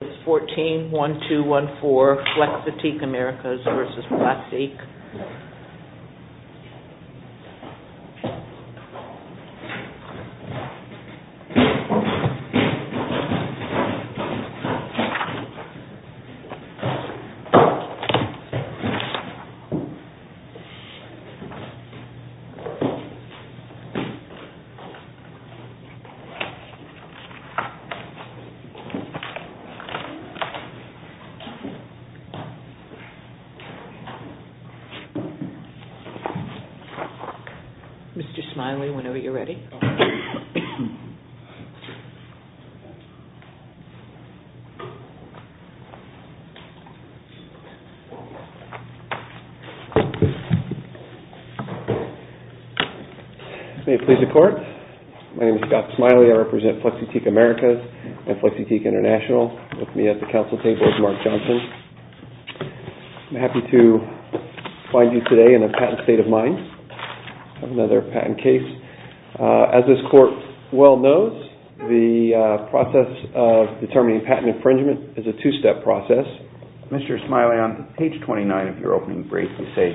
It's 14-1214 Flexiteek Americas v. PlasTEAK. Mr. Smiley, whenever you're ready. May it please the Court, my name is Scott Smiley, I represent Flexiteek Americas and with me at the Council table is Mark Johnson. I'm happy to find you today in a patent state of mind on another patent case. As this Court well knows, the process of determining patent infringement is a two-step process. Mr. Smiley, on page 29 of your opening brief, you say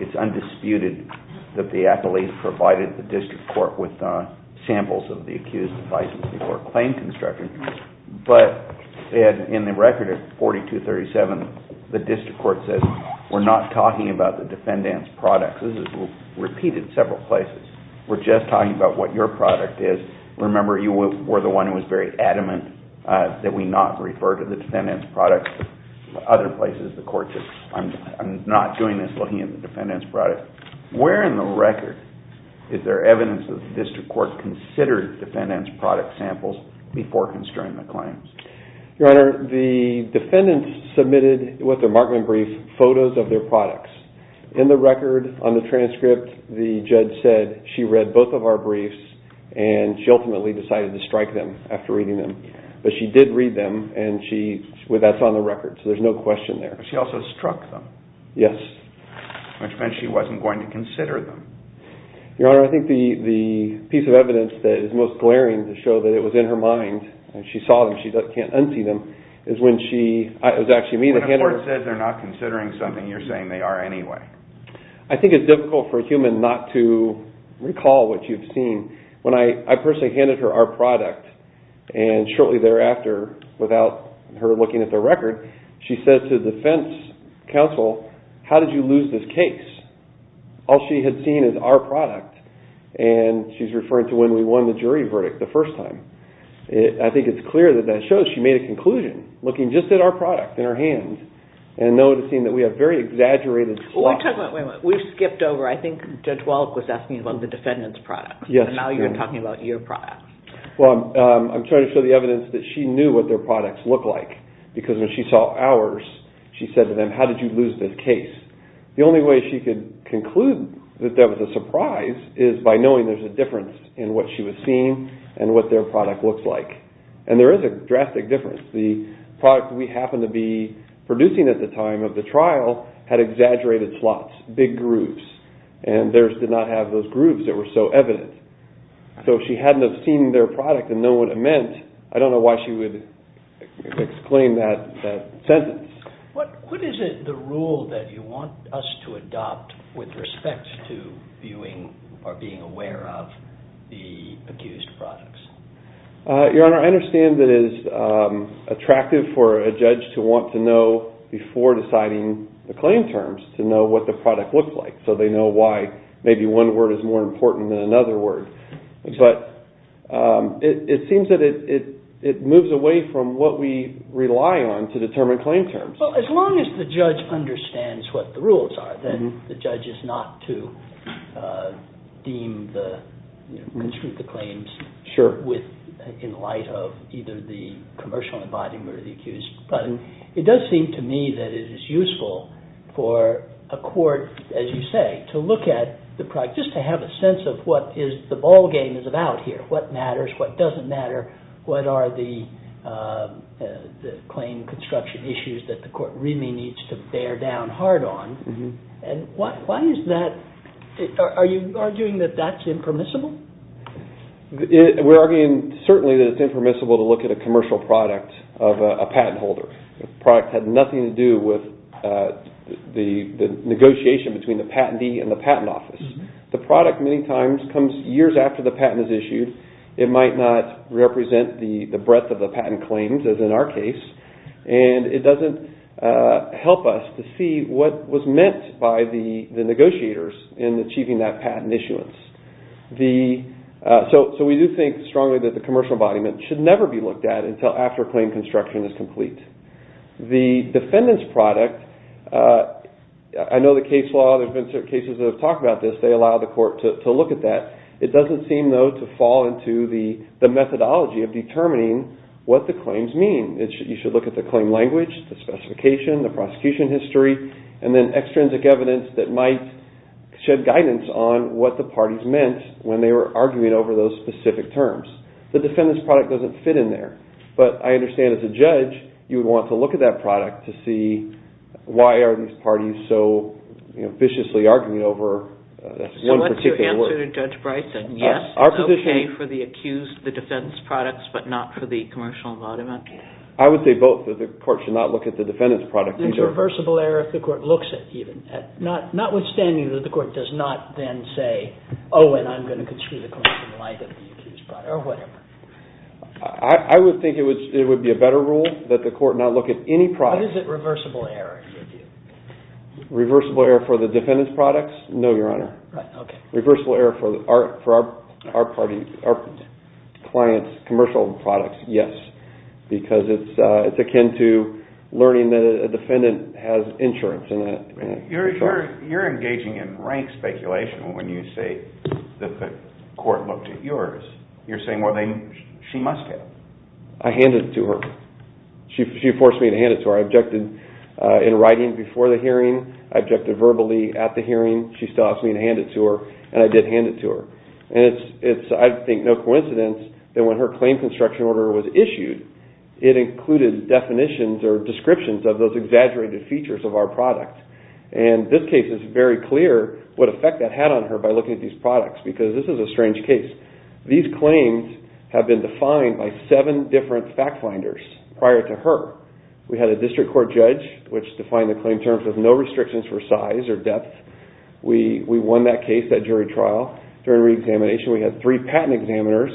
it's undisputed that the appellees provided the District Court with samples of the accused's devices before claim construction, but in the record at 4237, the District Court says we're not talking about the defendant's products. This is repeated several places. We're just talking about what your product is. Remember, you were the one who was very adamant that we not refer to the defendant's products. Other places, the Court says I'm not doing this looking at the defendant's products. Where in the record is there evidence that the District Court considered the defendant's product samples before constraining the claims? Your Honor, the defendant submitted with a markman brief photos of their products. In the record, on the transcript, the judge said she read both of our briefs and she ultimately decided to strike them after reading them. But she did read them and that's on the record, so there's no question there. But she also struck them, which meant she wasn't going to consider them. Your Honor, I think the piece of evidence that is most glaring to show that it was in her mind and she saw them, she can't unsee them, is when she, it was actually me that handed her... When a court says they're not considering something, you're saying they are anyway. I think it's difficult for a human not to recall what you've seen. When I personally handed her our product, and shortly thereafter, without her looking at the record, she said to the defense counsel, how did you lose this case? All she had seen is our product, and she's referring to when we won the jury verdict the first time. I think it's clear that that shows she made a conclusion, looking just at our product in her hand and noticing that we have very exaggerated... We've skipped over. I think Judge Wallach was asking about the defendant's product. Yes. And now you're talking about your product. Well, I'm trying to show the evidence that she knew what their products looked like, because when she saw ours, she said to them, how did you lose this case? The only way she could conclude that that was a surprise is by knowing there's a difference in what she was seeing and what their product looked like. And there is a drastic difference. The product we happened to be producing at the time of the trial had exaggerated slots, big grooves, and theirs did not have those grooves that were so evident. So if she hadn't have seen their product and known what it meant, I don't know why she would exclaim that sentence. What is it, the rule, that you want us to adopt with respect to viewing or being aware of the accused products? Your Honor, I understand that it is attractive for a judge to want to know before deciding the claim terms, to know what the product looks like, so they know why maybe one word is more important than another word. But it seems that it moves away from what we rely on to determine claim terms. Well, as long as the judge understands what the rules are, then the judge is not to deem the, construe the claims in light of either the commercial embodiment or the accused. But it does seem to me that it is useful for a court, as you say, to look at the product, just to have a sense of what the ballgame is about here. What matters, what doesn't matter, what are the claim construction issues that the court really needs to bear down hard on. And why is that, are you arguing that that's impermissible? We're arguing certainly that it's impermissible to look at a commercial product of a patent holder. The product had nothing to do with the negotiation between the patentee and the patent office. The product many times comes years after the patent is issued. It might not represent the breadth of the patent claims, as in our case, and it doesn't help us to see what was meant by the negotiators in achieving that patent issuance. So we do think strongly that the commercial embodiment should never be looked at until after claim construction is complete. The defendant's product, I know the case law, there have been certain cases that have talked about this, they allow the court to look at that. It doesn't seem, though, to fall into the methodology of determining what the claims mean. You should look at the claim language, the specification, the prosecution history, and then extrinsic evidence that might shed guidance on what the parties meant when they were arguing over those specific terms. The defendant's product doesn't fit in there. But I understand as a judge, you would want to look at that product to see why are these parties so viciously arguing over one particular one. So what's your answer to Judge Bryson? Yes, it's okay for the accused, the defendant's products, but not for the commercial embodiment? I would say both, that the court should not look at the defendant's product either. There's reversible error if the court looks at even, notwithstanding that the court does not then say, oh, and I'm going to construe the claim in light of the accused's product, or whatever. I would think it would be a better rule that the court not look at any product. But is it reversible error? Reversible error for the defendant's products? No, Your Honor. Right, okay. Reversible error for our client's commercial products? Yes, because it's akin to learning that a defendant has insurance. You're engaging in rank speculation when you say that the court looked at yours. You're saying, well, she must have. I handed it to her. She forced me to hand it to her. I objected in writing before the case, and I did hand it to her. It's, I think, no coincidence that when her claim construction order was issued, it included definitions or descriptions of those exaggerated features of our product. And this case is very clear what effect that had on her by looking at these products, because this is a strange case. These claims have been defined by seven different fact finders prior to her. We had a district court judge, which defined the claim in terms of no restrictions for size or depth. We won that case, that jury trial. During reexamination, we had three patent examiners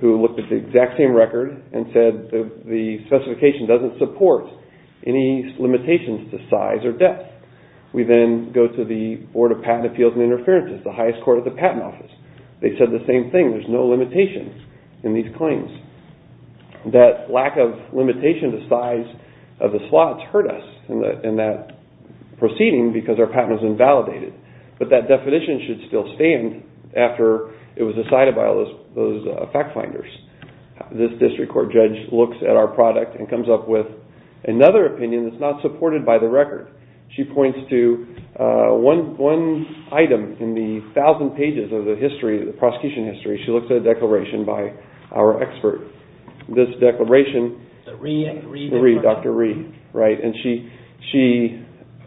who looked at the exact same record and said the specification doesn't support any limitations to size or depth. We then go to the Board of Patent Appeals and Interferences, the highest court at the patent office. They said the same thing. There's no limitations in these claims. That lack of limitation to size of the slots hurt us in that proceeding because our patent was invalidated. But that definition should still stand after it was decided by all those fact finders. This district court judge looks at our product and comes up with another opinion that's not supported by the record. She points to one item in the thousand pages of the history, the prosecution history. She looks at a declaration by our expert. This declaration, Dr. Rhee.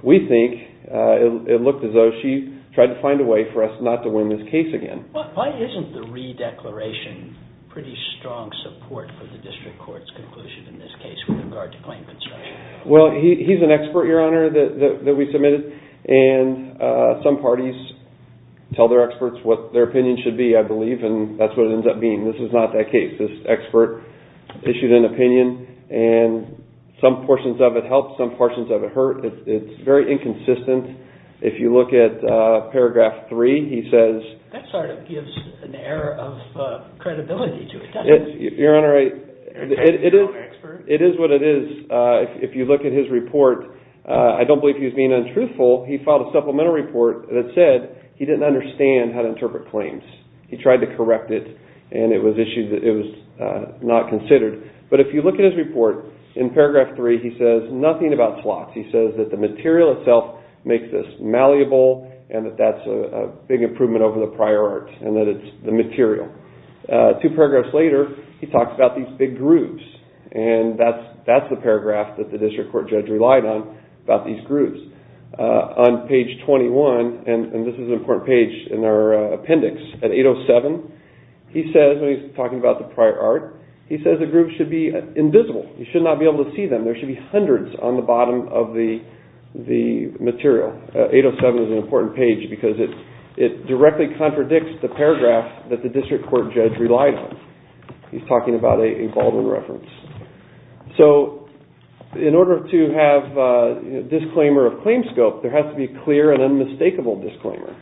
We think it looked as though she tried to find a way for us not to win this case again. Why isn't the Rhee declaration pretty strong support for the district court's conclusion in this case with regard to claim construction? He's an expert, Your Honor, that we submitted. Some parties tell their experts what their opinion should be, I believe, and that's what it ends up being. This is not that case. This expert issued an opinion and some portions of it helped, some portions of it hurt. It's very inconsistent. If you look at paragraph three, he says... That sort of gives an air of credibility to it, doesn't it? Your Honor, it is what it is. If you look at his report, I don't believe he was being untruthful. He filed a supplemental report that said he didn't understand how to interpret claims. He tried to correct it and it was not considered. But if you look at his report, in paragraph three, he says nothing about slots. He says that the material itself makes this malleable and that that's a big improvement over the prior art and that it's the material. Two paragraphs later, he talks about these big grooves and that's the paragraph that the district court judge relied on about these grooves. On page 21, and this is an important page in our appendix, at 807, he says when he's talking about the prior art, he says the grooves should be invisible. You should not be able to see them. There should be hundreds on the bottom of the material. 807 is an important page because it directly contradicts the paragraph that the district court judge relied on. He's talking about a Baldwin reference. So in order to have a disclaimer of claim scope, there has to be a clear and unmistakable disclaimer.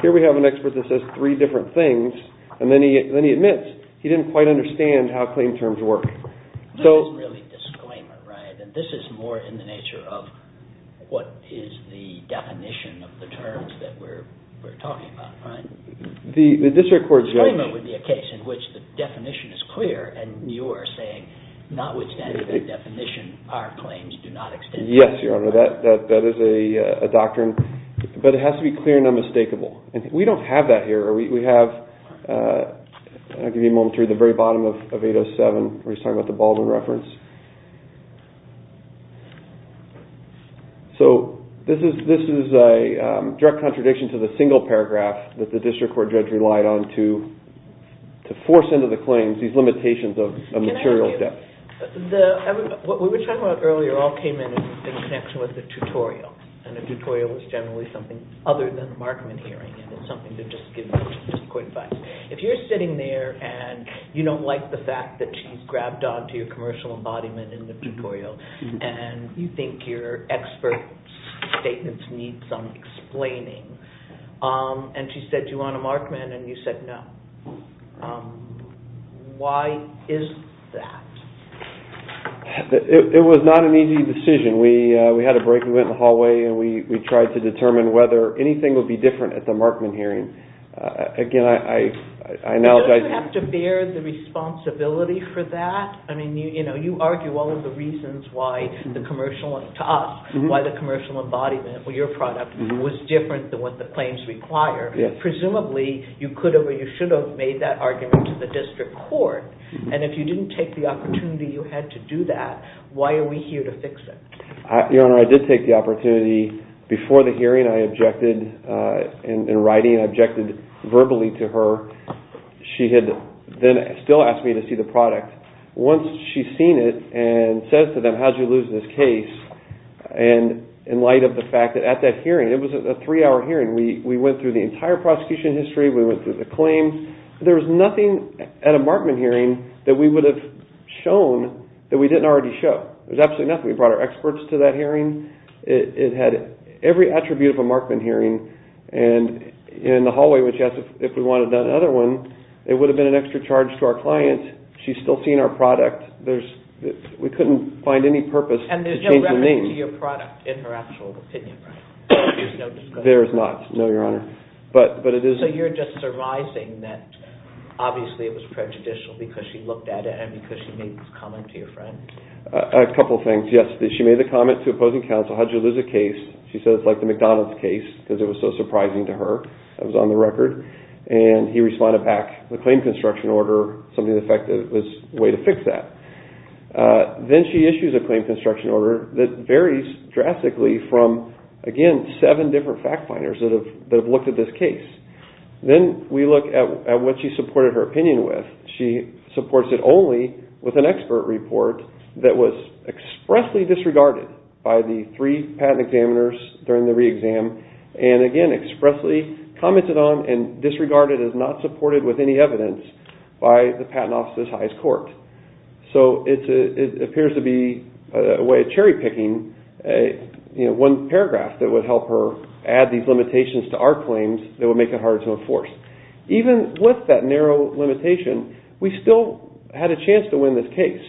Here we have an expert that says three different things and then he admits he didn't quite understand how claim terms work. This isn't really a disclaimer, right? This is more in the nature of what is the definition of the terms that we're talking about, right? A disclaimer would be a case in which the definition is clear and you are saying not withstanding the definition, our claims do not extend. Yes, Your Honor. That is a doctrine. But it has to be clear and unmistakable. We don't have that here. We have, I'll give you a moment to read the very bottom of 807 where he's talking about the Baldwin reference. So this is a direct contradiction to the single paragraph that the district court judge relied on to force into the claims these limitations of material depth. What we were talking about earlier all came in in connection with the tutorial and the tutorial is generally something other than the Markman hearing. It's something to just give quick advice. If you're sitting there and you don't like the fact that she's grabbed onto your commercial embodiment in the tutorial and you think your expert statements need some explaining. And she said, do you want a Markman? And you said, no. Why is that? It was not an easy decision. We had a break. We went in the hallway and we tried to determine whether anything would be different at the Markman hearing. Again, I acknowledge... Don't you have to bear the responsibility for that? You argue all of the reasons why the commercial... To us, why the commercial embodiment, your product, was different than what the claims require. Presumably, you could have or you should have made that argument to the district court. And if you didn't take the opportunity you had to do that, why are we here to fix it? Your Honor, I did take the opportunity. Before the hearing, I objected in writing. I objected verbally to her. She had then still asked me to see the product. Once she's seen it and says to them, how did you lose this case? And in light of the fact that at that hearing, it was a three-hour hearing. We went through the entire prosecution history. We went through the claims. There was nothing at a Markman hearing that we would have shown that we didn't already show. There was absolutely nothing. We brought our experts to that hearing. It had every attribute of a Markman hearing. And in the hallway, when she asked if we wanted another one, it would have been an extra charge to our client. She's still seeing our product. We couldn't find any purpose to change the name. And there's no reference to your product in her actual opinion, right? There's no discussion? There is not, no, Your Honor. So you're just arising that obviously it was prejudicial because she looked at it and because she made this comment to your friend? A couple of things, yes. She made the comment to opposing counsel, how did you lose the case? She said it's like the McDonald's case because it was so surprising to her. It was on the record. And he responded back, the claim construction order, something to the effect that it was a way to fix that. Then she issues a claim construction order that varies drastically from, again, seven different fact finders that have looked at this case. Then we look at what she supported her opinion with. She supports it only with an expert report that was expressly disregarded by the three patent examiners during the re-exam and, again, expressly commented on and disregarded as not supported with any evidence by the Patent Office's highest court. So it appears to be a way of cherry picking one paragraph that would help her add these limitations to our claims that would make it hard to enforce. Even with that narrow limitation, we still had a chance to win this case.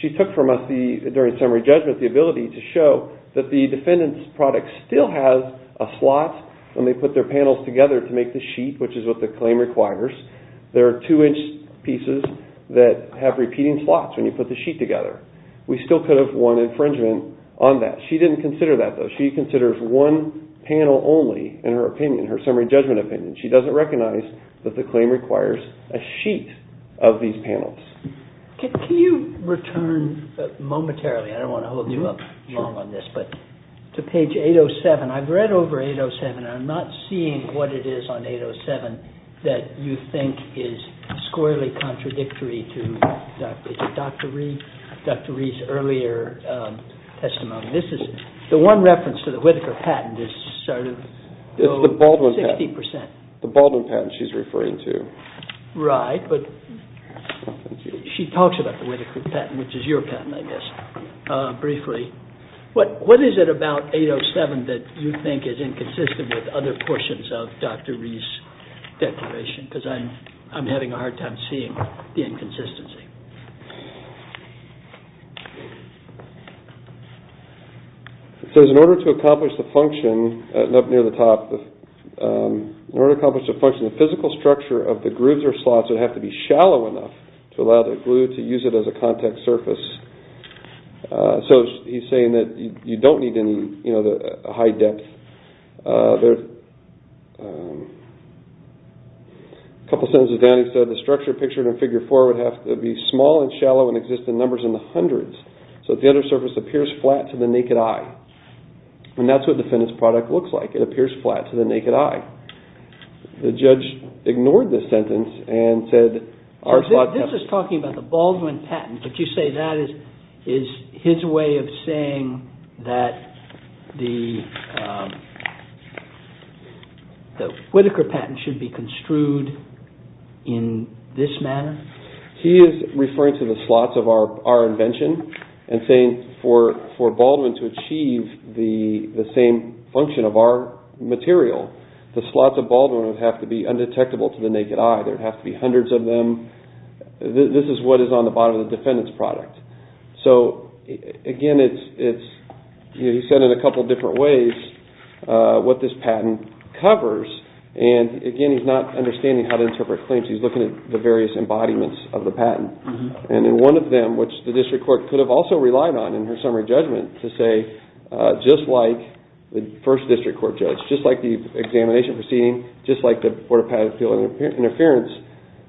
She took from us during summary judgment the ability to show that the defendant's product still has a slot when they put their panels together to make the sheet, which is what the claim requires. There are two-inch pieces that have repeating slots when you put the sheet together. We still could have won infringement on that. She didn't consider that, though. She considers one panel only in her opinion, her summary judgment opinion. She doesn't recognize that the claim requires a sheet of these panels. Can you return momentarily, I don't want to hold you up long on this, to page 807? I've read over 807 and I'm not seeing what it is on 807 that you think is squarely contradictory to Dr. Reed's earlier testimony. The one reference to the Whitaker patent is sort of 60%. It's the Baldwin patent she's referring to. Right, but she talks about the Whitaker patent, which is your patent, I guess, briefly. What is it about 807 that you think is inconsistent with other portions of Dr. Reed's declaration? Because I'm having a hard time seeing the inconsistency. It says, in order to accomplish the function, up near the top, in order to accomplish the function, the physical structure of the grooves or slots would have to be shallow enough to allow the glue to use it as a contact surface. So he's saying that you don't need any high depth. A couple sentences down he said, the structure pictured in figure four would have to be small and shallow and exist in numbers in the hundreds, so that the under surface appears flat to the naked eye. And that's what defendant's product looks like. It appears flat to the naked eye. The judge ignored the sentence and said our slot... This is talking about the Baldwin patent, but you say that is his way of saying that the Whitaker patent should be construed in this manner? He is referring to the slots of our invention and saying for Baldwin to achieve the same function of our material, the slots of Baldwin would have to be undetectable to the naked eye. There would have to be hundreds of them. This is what is on the bottom of the defendant's product. So again, he said in a couple different ways what this patent covers. And again, he's not understanding how to interpret claims. He's looking at the various embodiments of the patent. And in one of them, which the district court could have also relied on in her summary judgment to say, just like the first district court judge, just like the examination proceeding, just like the port of patent interference,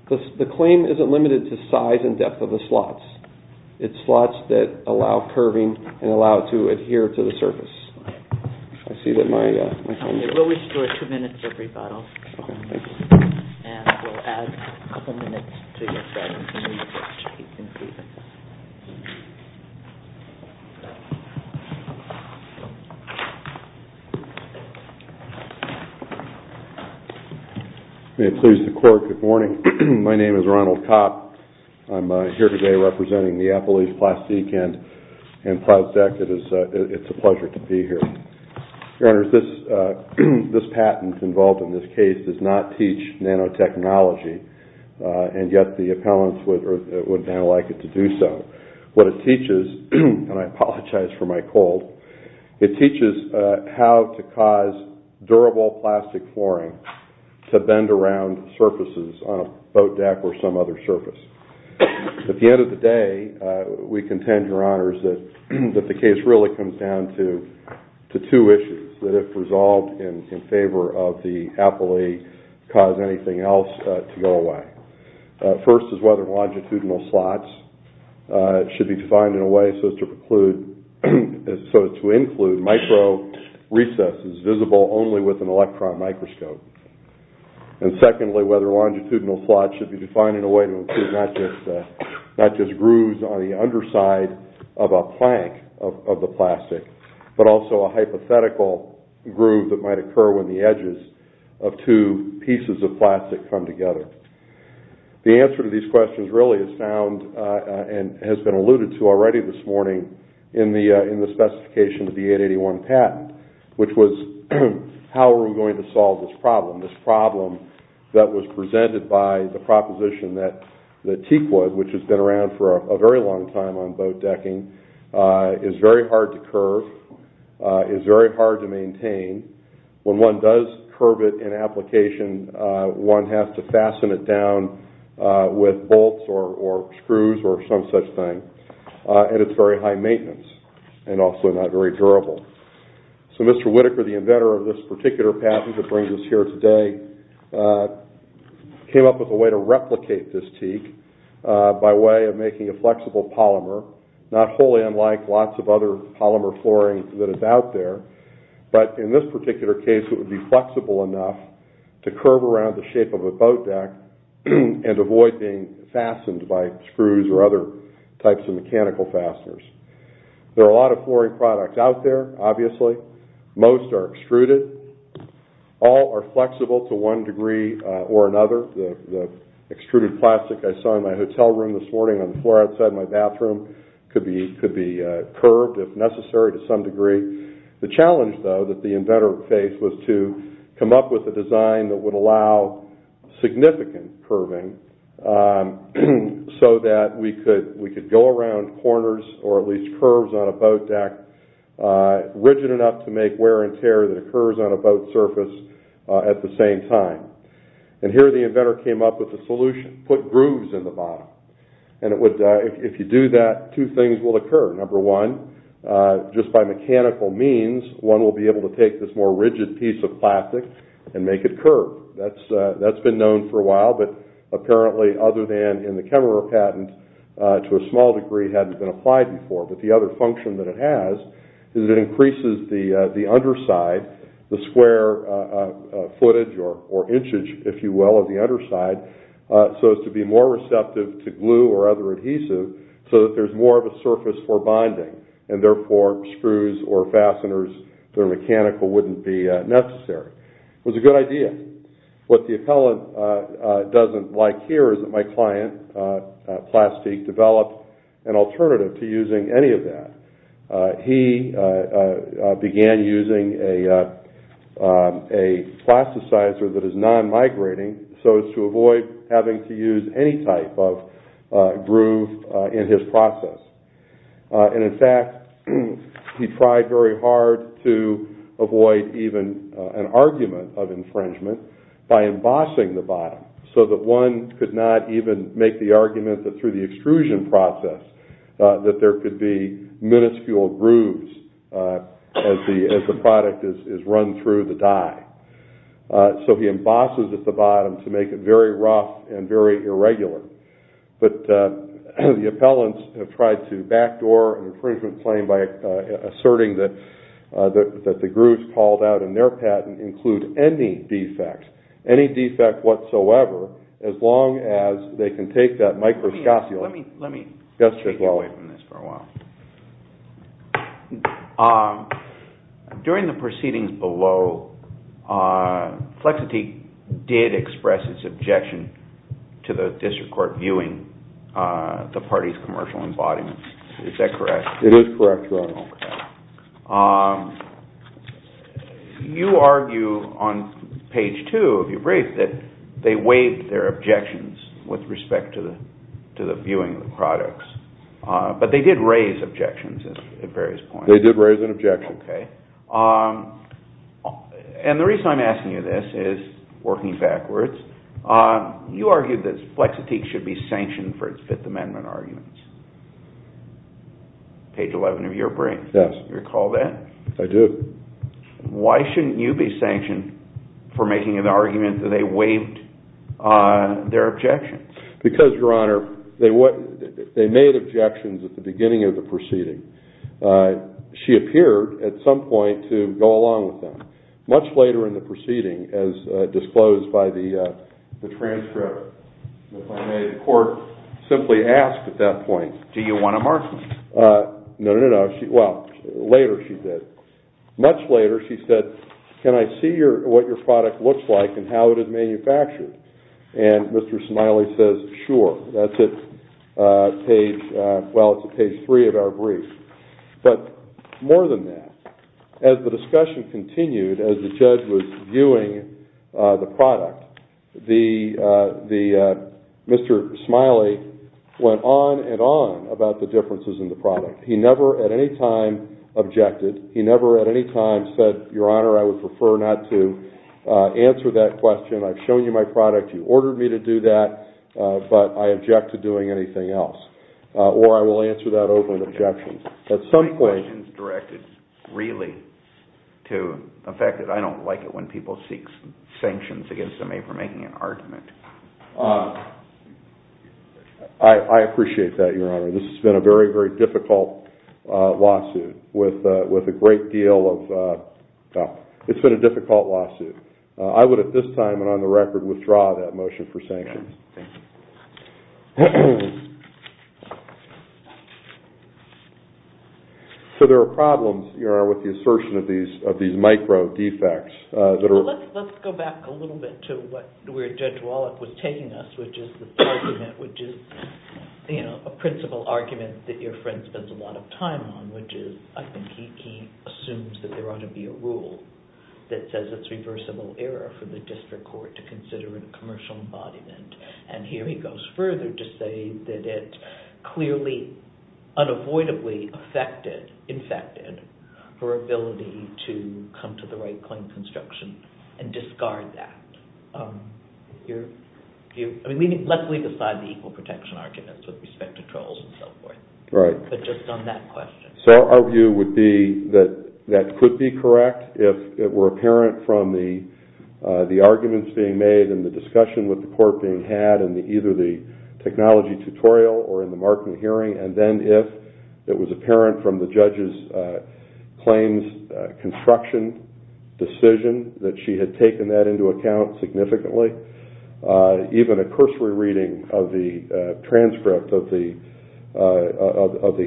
the claim isn't limited to size and depth of the slots. It's slots that allow curving and allow it to adhere to the surface. I see that my time is up. We'll restore two minutes of rebuttal. And we'll add a couple minutes to your time. May it please the court, good morning. My name is Ronald Kopp. I'm here today representing the Appalachian Plastic End and Plastec. It's a pleasure to be here. Your Honor, this patent involved in this case does not teach nanotechnology. And yet, the appellants would now like it to do so. What it teaches, and I apologize for the delay, and I apologize for my cold, it teaches how to cause durable plastic flooring to bend around surfaces on a boat deck or some other surface. At the end of the day, we contend, Your Honors, that the case really comes down to two issues that have resolved in favor of the appellee cause anything else to go away. First is whether longitudinal slots should be defined in a way so as to include micro recesses visible only with an electron microscope. And secondly, whether longitudinal slots should be defined in a way to include not just grooves on the underside of a plank of the plastic, but also a hypothetical groove that might occur when the edges of two pieces of plastic come together. The answer to these questions really is found and has been alluded to already this morning in the specification of the 881 patent, which was how are we going to solve this problem? This problem that was presented by the proposition that TEQA, which has been around for a very long time on boat decking, is very hard to curve, is very hard to maintain. When one does curve it in application, one has to fasten it down with bolts or screws or some such thing. And it's very high maintenance and also not very durable. So Mr. Whitaker, the inventor of this particular patent that brings us here today, came up with a way to replicate this TEQA by way of making a flexible polymer, not wholly unlike lots of other polymer flooring that is out there, but in this particular case it would be flexible enough to curve around the shape of a boat deck and avoid being fastened by screws or other types of mechanical fasteners. There are a lot of flooring products out there, obviously. Most are extruded. All are flexible to one degree or another. The extruded plastic I saw in my hotel room this morning on the floor outside my bathroom could be curved if necessary to some degree. The challenge, though, that the inventor faced was to come up with a design that would allow significant curving so that we could go around corners or at least curves on a boat deck rigid enough to make wear and tear that occurs on a boat surface at the same time. And here the inventor came up with a solution, put grooves in the bottom. And if you do that, two things will occur. Number one, just by mechanical means, one will be able to take this more rigid piece of plastic and make it curve. That's been known for a while, but apparently other than in the Kemmerer patent to a small degree hadn't been applied before. But the other function that it has is it increases the underside, the square footage or inchage, if you will, of the underside so as to be more receptive to glue or other adhesive so that there's more of a surface for bonding and therefore screws or fasteners that are mechanical wouldn't be necessary. It was a good idea. What the appellant doesn't like here is that my client, Plastique, developed an alternative to using any of that. He began using a plasticizer that is non-migrating so as to avoid having to use any type of groove in his process. And in fact, he tried very hard to avoid even an argument of infringement by embossing the bottom so that one could not even make the argument that through the extrusion process that there could be minuscule grooves as the product is run through the die. So he embosses at the bottom to make it very rough and very irregular. But the appellants have tried to backdoor an infringement claim by asserting that the grooves called out in their patent include any defect, any defect whatsoever, as long as they can take that microscopic... Let me take you away from this for a while. During the proceedings below, Flexitique did express its objection to the district court viewing the party's commercial embodiments. Is that correct? It is correct, Your Honor. You argue on page two of your brief that they waived their objections with respect to the viewing of the products. But they did raise objections at various points. They did raise an objection. And the reason I'm asking you this is, working backwards, you argued that Flexitique should be sanctioned for its Fifth Amendment arguments. Page 11 of your brief. Yes. Do you recall that? I do. Why shouldn't you be sanctioned for making an argument that they waived their objections? Because, Your Honor, they made objections at the beginning of the proceeding. She appeared at some point to go along with them. Much later in the proceeding, as disclosed by the transcript, the court simply asked at that point, do you want to mark them? No, no, no. Well, later she did. Much later, she said, can I see what your product looks like and how it is manufactured? And Mr. Smiley says, sure. That's at page, well, it's at page three of our brief. But more than that, as the discussion continued, as the judge was viewing the product, Mr. Smiley went on and on about the differences in the product. He never at any time objected. He never at any time said, Your Honor, I would prefer not to answer that question. I've shown you my product. You ordered me to do that, but I object to doing anything else. Or I will answer that over an objection. My question is directed really to the fact that I don't like it when people seek sanctions against me for making an argument. I appreciate that, Your Honor. This has been a very, very difficult lawsuit with a great deal of... It's been a difficult lawsuit. I would, at this time and on the record, withdraw that motion for sanctions. So there are problems, Your Honor, with the assertion of these micro-defects. Let's go back a little bit to where Judge Wallach was taking us, which is the argument, which is a principle argument that your friend spends a lot of time on, which is I think he assumes that there ought to be a rule that says it's reversible error for the district court to consider in a commercial embodiment. And here he goes further to say that it clearly, unavoidably affected, infected, her ability to come to the right claim construction and discard that. Let's leave aside the equal protection arguments with respect to trolls and so forth. Right. But just on that question. So our view would be that that could be correct if it were apparent from the arguments being made and the discussion with the court being had in either the technology tutorial or in the marketing hearing, and then if it was apparent from the judge's claims construction decision that she had taken that into account significantly. Even a cursory reading of the transcript of the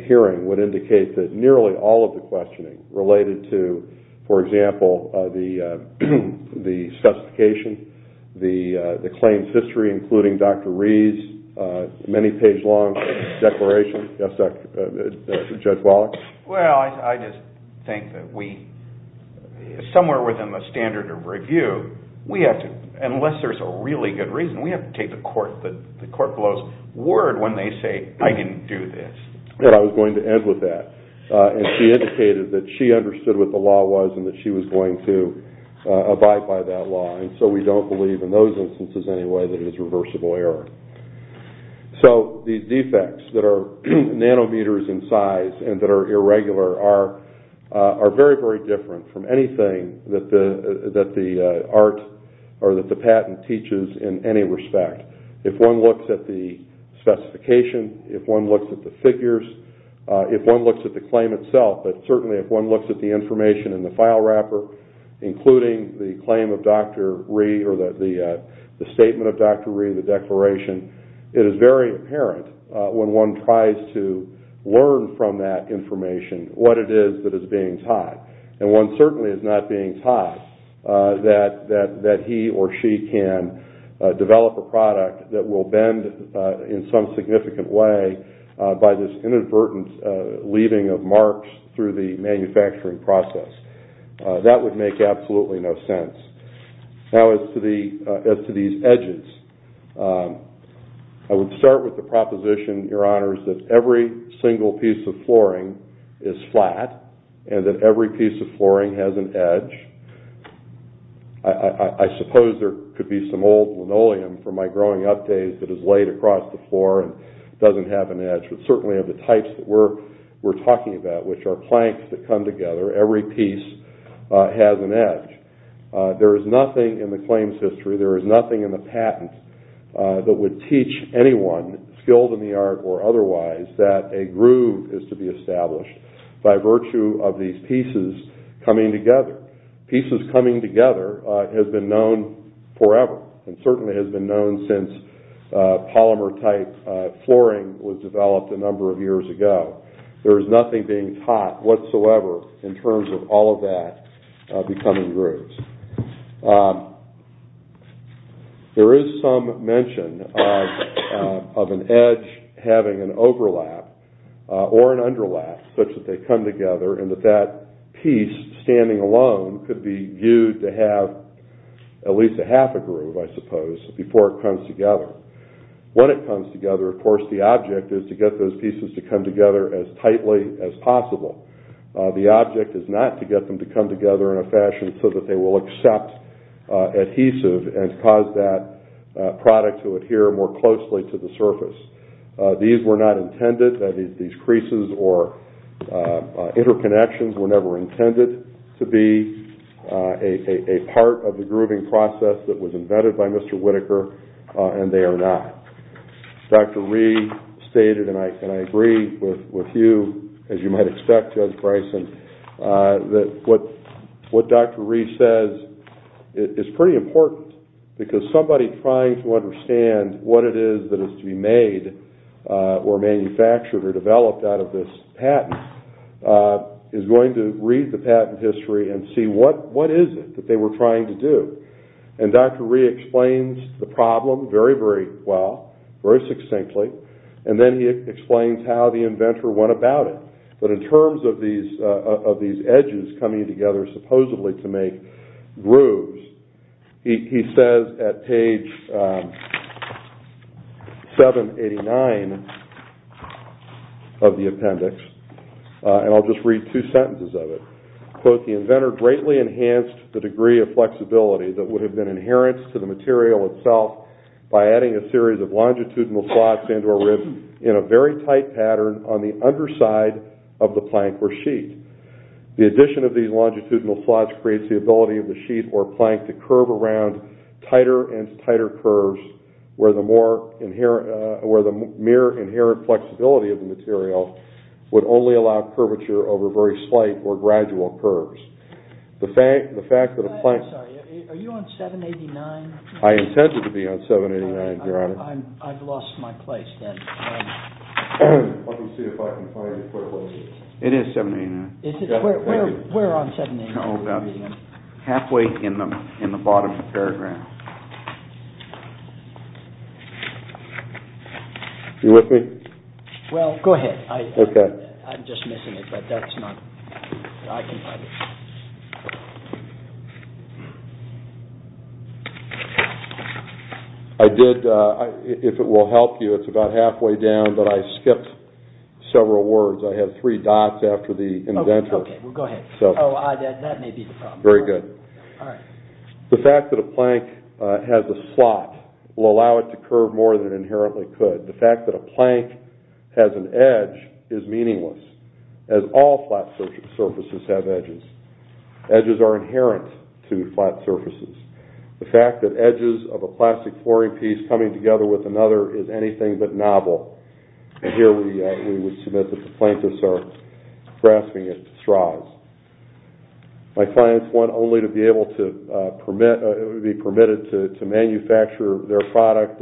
hearing would indicate that nearly all of the questioning related to, for example, the specification, the claims history, including Dr. Reed's many page long declaration. Yes, Judge Wallach? Well, I just think that we, somewhere within the standard of review, we have to, unless there's a really good reason, we have to take the court below's word when they say, I didn't do this. I was going to end with that. And she indicated that she understood what the law was and that she was going to abide by that law. And so we don't believe in those instances anyway that it is reversible error. So these defects that are nanometers in size and that are irregular are very, very different from anything that the art, or that the patent teaches in any respect. If one looks at the specification, if one looks at the figures, if one looks at the claim itself, but certainly if one looks at the information in the file wrapper, including the claim of Dr. Reed, or the statement of Dr. Reed, the declaration, it is very apparent when one tries to learn from that information what it is that is being taught. And one certainly is not being taught that he or she can develop a product that will bend in some significant way by this inadvertent leaving of marks through the manufacturing process. That would make absolutely no sense. Now as to these edges, I would start with the proposition, Your Honors, that every single piece of flooring is flat, and that every piece of flooring has an edge. I suppose there could be some old linoleum from my growing up days that is laid across the floor and doesn't have an edge, but certainly of the types that we're talking about, which are planks that come together, every piece has an edge. There is nothing in the claims history, there is nothing in the patent, that would teach anyone skilled in the art or otherwise that a groove is to be established by virtue of these pieces coming together. Pieces coming together has been known forever, and certainly has been known since polymer type flooring was developed a number of years ago. There is nothing being taught whatsoever in terms of all of that becoming grooves. There is some mention of an edge having an overlap or an underlap such that they come together and that that piece standing alone could be viewed to have at least a half a groove, I suppose, before it comes together. When it comes together, of course, the object is to get those pieces to come together as tightly as possible. The object is not to get them to come together in a fashion so that they will accept adhesive and cause that product to adhere more closely to the surface. These were not intended, these creases or interconnections were never intended to be a part of the grooving process that was invented by Mr. Whitaker, and they are not. Dr. Rhee stated, and I agree with you, as you might expect, Judge Bryson, that what Dr. Rhee says is pretty important because somebody trying to understand what it is that is to be made or manufactured or developed out of this patent is going to read the patent history and see what is it that they were trying to do. And Dr. Rhee explains the problem very, very well, very succinctly, and then he explains how the inventor went about it. But in terms of these edges coming together supposedly to make grooves, he says at page 789 of the appendix, and I'll just read two sentences of it. Quote, the inventor greatly enhanced the degree of flexibility that would have been inherent to the material itself by adding a series of longitudinal slots into a rib in a very tight pattern on the underside of the plank or sheet. The addition of these longitudinal slots creates the ability of the sheet or plank to curve around tighter and tighter curves where the mere inherent flexibility of the material would only allow curvature over very slight or gradual curves. The fact that a plank... I'm sorry, are you on 789? I intended to be on 789, Your Honor. I've lost my place then. Let me see if I can find it quickly. It is 789. Is it? Where on 789? Oh, about halfway in the bottom of the paragraph. You with me? Well, go ahead. Okay. I'm just missing it, but that's not... I can find it. I did... If it will help you, it's about halfway down, but I skipped several words. I have three dots after the inventor. Okay, well, go ahead. Oh, that may be the problem. Very good. All right. The fact that a plank has a slot will allow it to curve more than it inherently could. The fact that a plank has an edge is meaningless as all flat surfaces have edges. Edges are inherent to flat surfaces. The fact that edges of a plastic flooring piece coming together with another is anything but novel. And here we would submit that the planktists are grasping at straws. My clients want only to be able to permit... be permitted to manufacture their product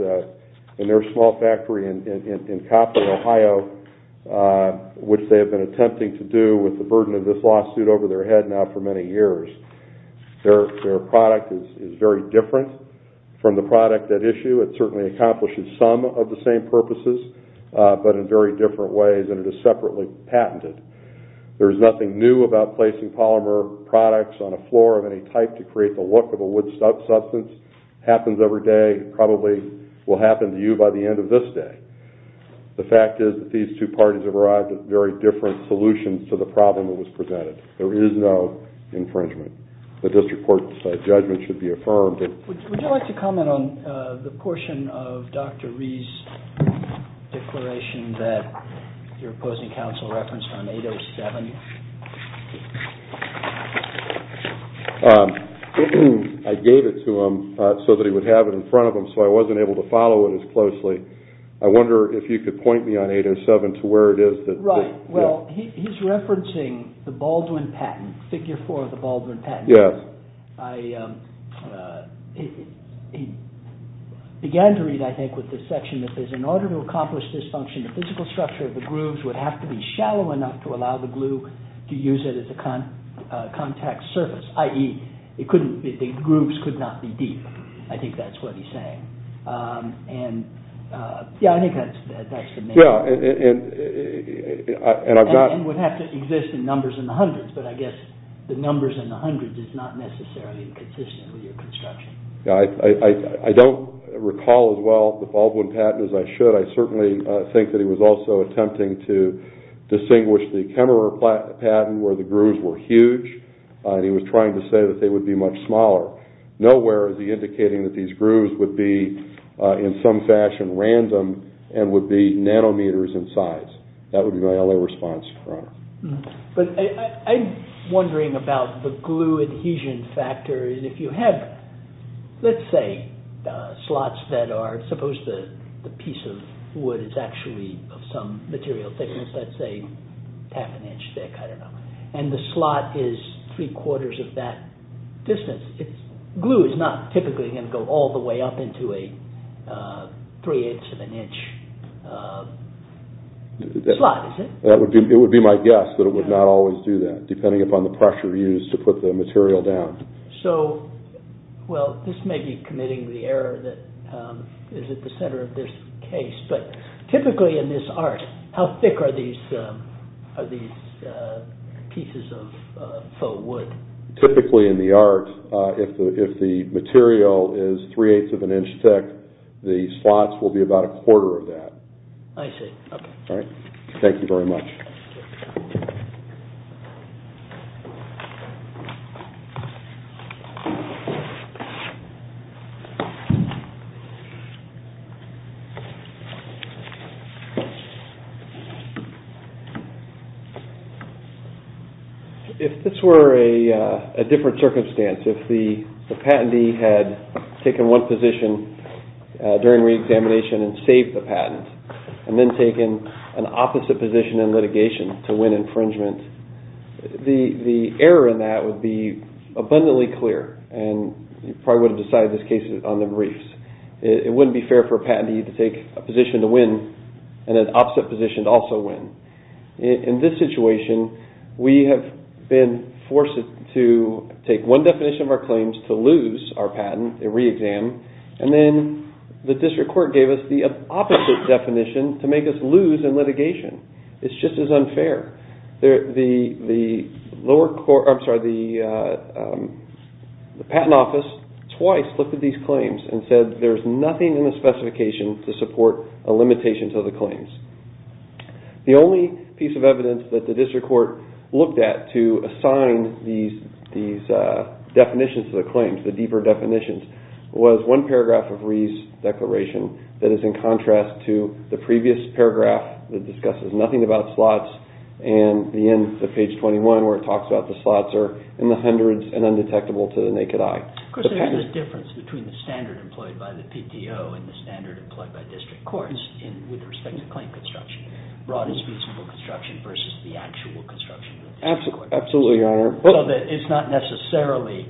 in their small factory in Copper, Ohio, which they have been attempting to do with the burden of this lawsuit over their head now for many years. Their product is very different from the product at issue. It certainly accomplishes some of the same purposes, but in very different ways, and it is separately patented. There's nothing new about placing polymer products on a floor of any type to create the look of a wood substance. Happens every day, probably will happen to you by the end of this day. The fact is that these two parties have arrived with very different solutions to the problem that was presented. There is no infringement. The district court's judgment should be affirmed. Would you like to comment on the portion of Dr. Rhee's declaration that your opposing counsel referenced on 807? I gave it to him so that he would have it in front of him, so I wasn't able to follow it as closely. I wonder if you could point me on 807 to where it is that... Right, well, he's referencing the Baldwin patent, figure four of the Baldwin patent. Yes. I...he began to read, I think, with this section that says, in order to accomplish this function, the physical structure of the grooves would have to be shallow enough to allow the glue to be applied. To use it as a contact surface, i.e., the grooves could not be deep. I think that's what he's saying. And, yeah, I think that's the main... Yeah, and I've got... And would have to exist in numbers in the hundreds, but I guess the numbers in the hundreds is not necessarily consistent with your construction. I don't recall as well the Baldwin patent as I should. I certainly think that he was also attempting to distinguish the Kemmerer patent, where the grooves were huge, and he was trying to say that they would be much smaller. Nowhere is he indicating that these grooves would be in some fashion random and would be nanometers in size. That would be my only response, Your Honor. But I'm wondering about the glue adhesion factor. If you had, let's say, slots that are... Suppose the piece of wood is actually of some material thickness. Let's say half an inch thick, I don't know. And the slot is three-quarters of that distance. Glue is not typically going to go all the way up into a three-eighths of an inch slot, is it? It would be my guess that it would not always do that, depending upon the pressure used to put the material down. So, well, this may be committing the error that is at the center of this case. Typically in this art, how thick are these pieces of faux wood? Typically in the art, if the material is three-eighths of an inch thick, the slots will be about a quarter of that. I see. Okay. Thank you very much. If this were a different circumstance, if the patentee had taken one position during re-examination and saved the patent, and then taken an opposite position in litigation to win infringement, the error in that would be abundantly clear, and you probably would have decided this case on the briefs. It wouldn't be fair for a patentee to take a position to win and an opposite position to also win. In this situation, we have been forced to take one definition of our claims to lose our patent at re-exam, and then the district court gave us the opposite definition to make us lose in litigation. It's just as unfair. The lower court, I'm sorry, the patent office, twice looked at these claims and said, there's nothing in the specification to support a limitation to the claims. The only piece of evidence that the district court looked at to assign these definitions to the claims, the deeper definitions, was one paragraph of Reeves' declaration that is in contrast to the previous paragraph that discusses nothing about slots, and the end of page 21 where it talks about the slots are in the hundreds and undetectable to the naked eye. There's a difference between the standard employed by the PTO and the standard employed by district courts with respect to claim construction. Broad is reasonable construction versus the actual construction. Absolutely, Your Honor. It's not necessarily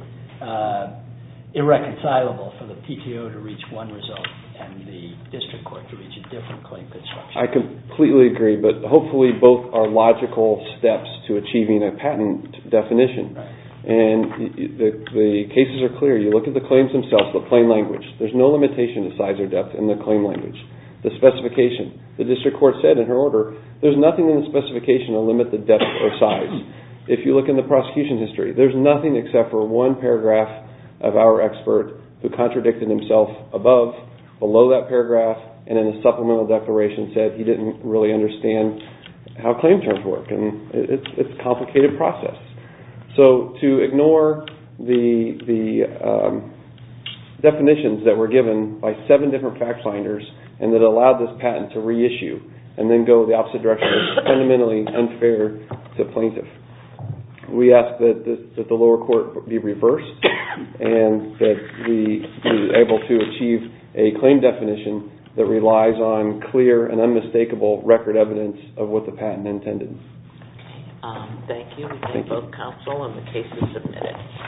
irreconcilable for the PTO to reach one result and the district court to reach a different claim construction. I completely agree, but hopefully both are logical steps to achieving a patent definition. The cases are clear. You look at the claims themselves, the claim language. There's no limitation to size or depth in the claim language. The specification, the district court said in her order, there's nothing in the specification to limit the depth or size. If you look in the prosecution history, there's nothing except for one paragraph of our expert who contradicted himself above, below that paragraph, and in a supplemental declaration said he didn't really understand how claim terms work. It's a complicated process. So to ignore the definitions that were given by seven different fact finders and that allowed this patent to reissue and then go the opposite direction is fundamentally unfair to plaintiffs. We ask that the lower court be reversed and that we be able to achieve a claim definition that relies on clear and unmistakable record evidence of what the patent intended. Okay. Thank you. We thank both counsel and the cases submitted.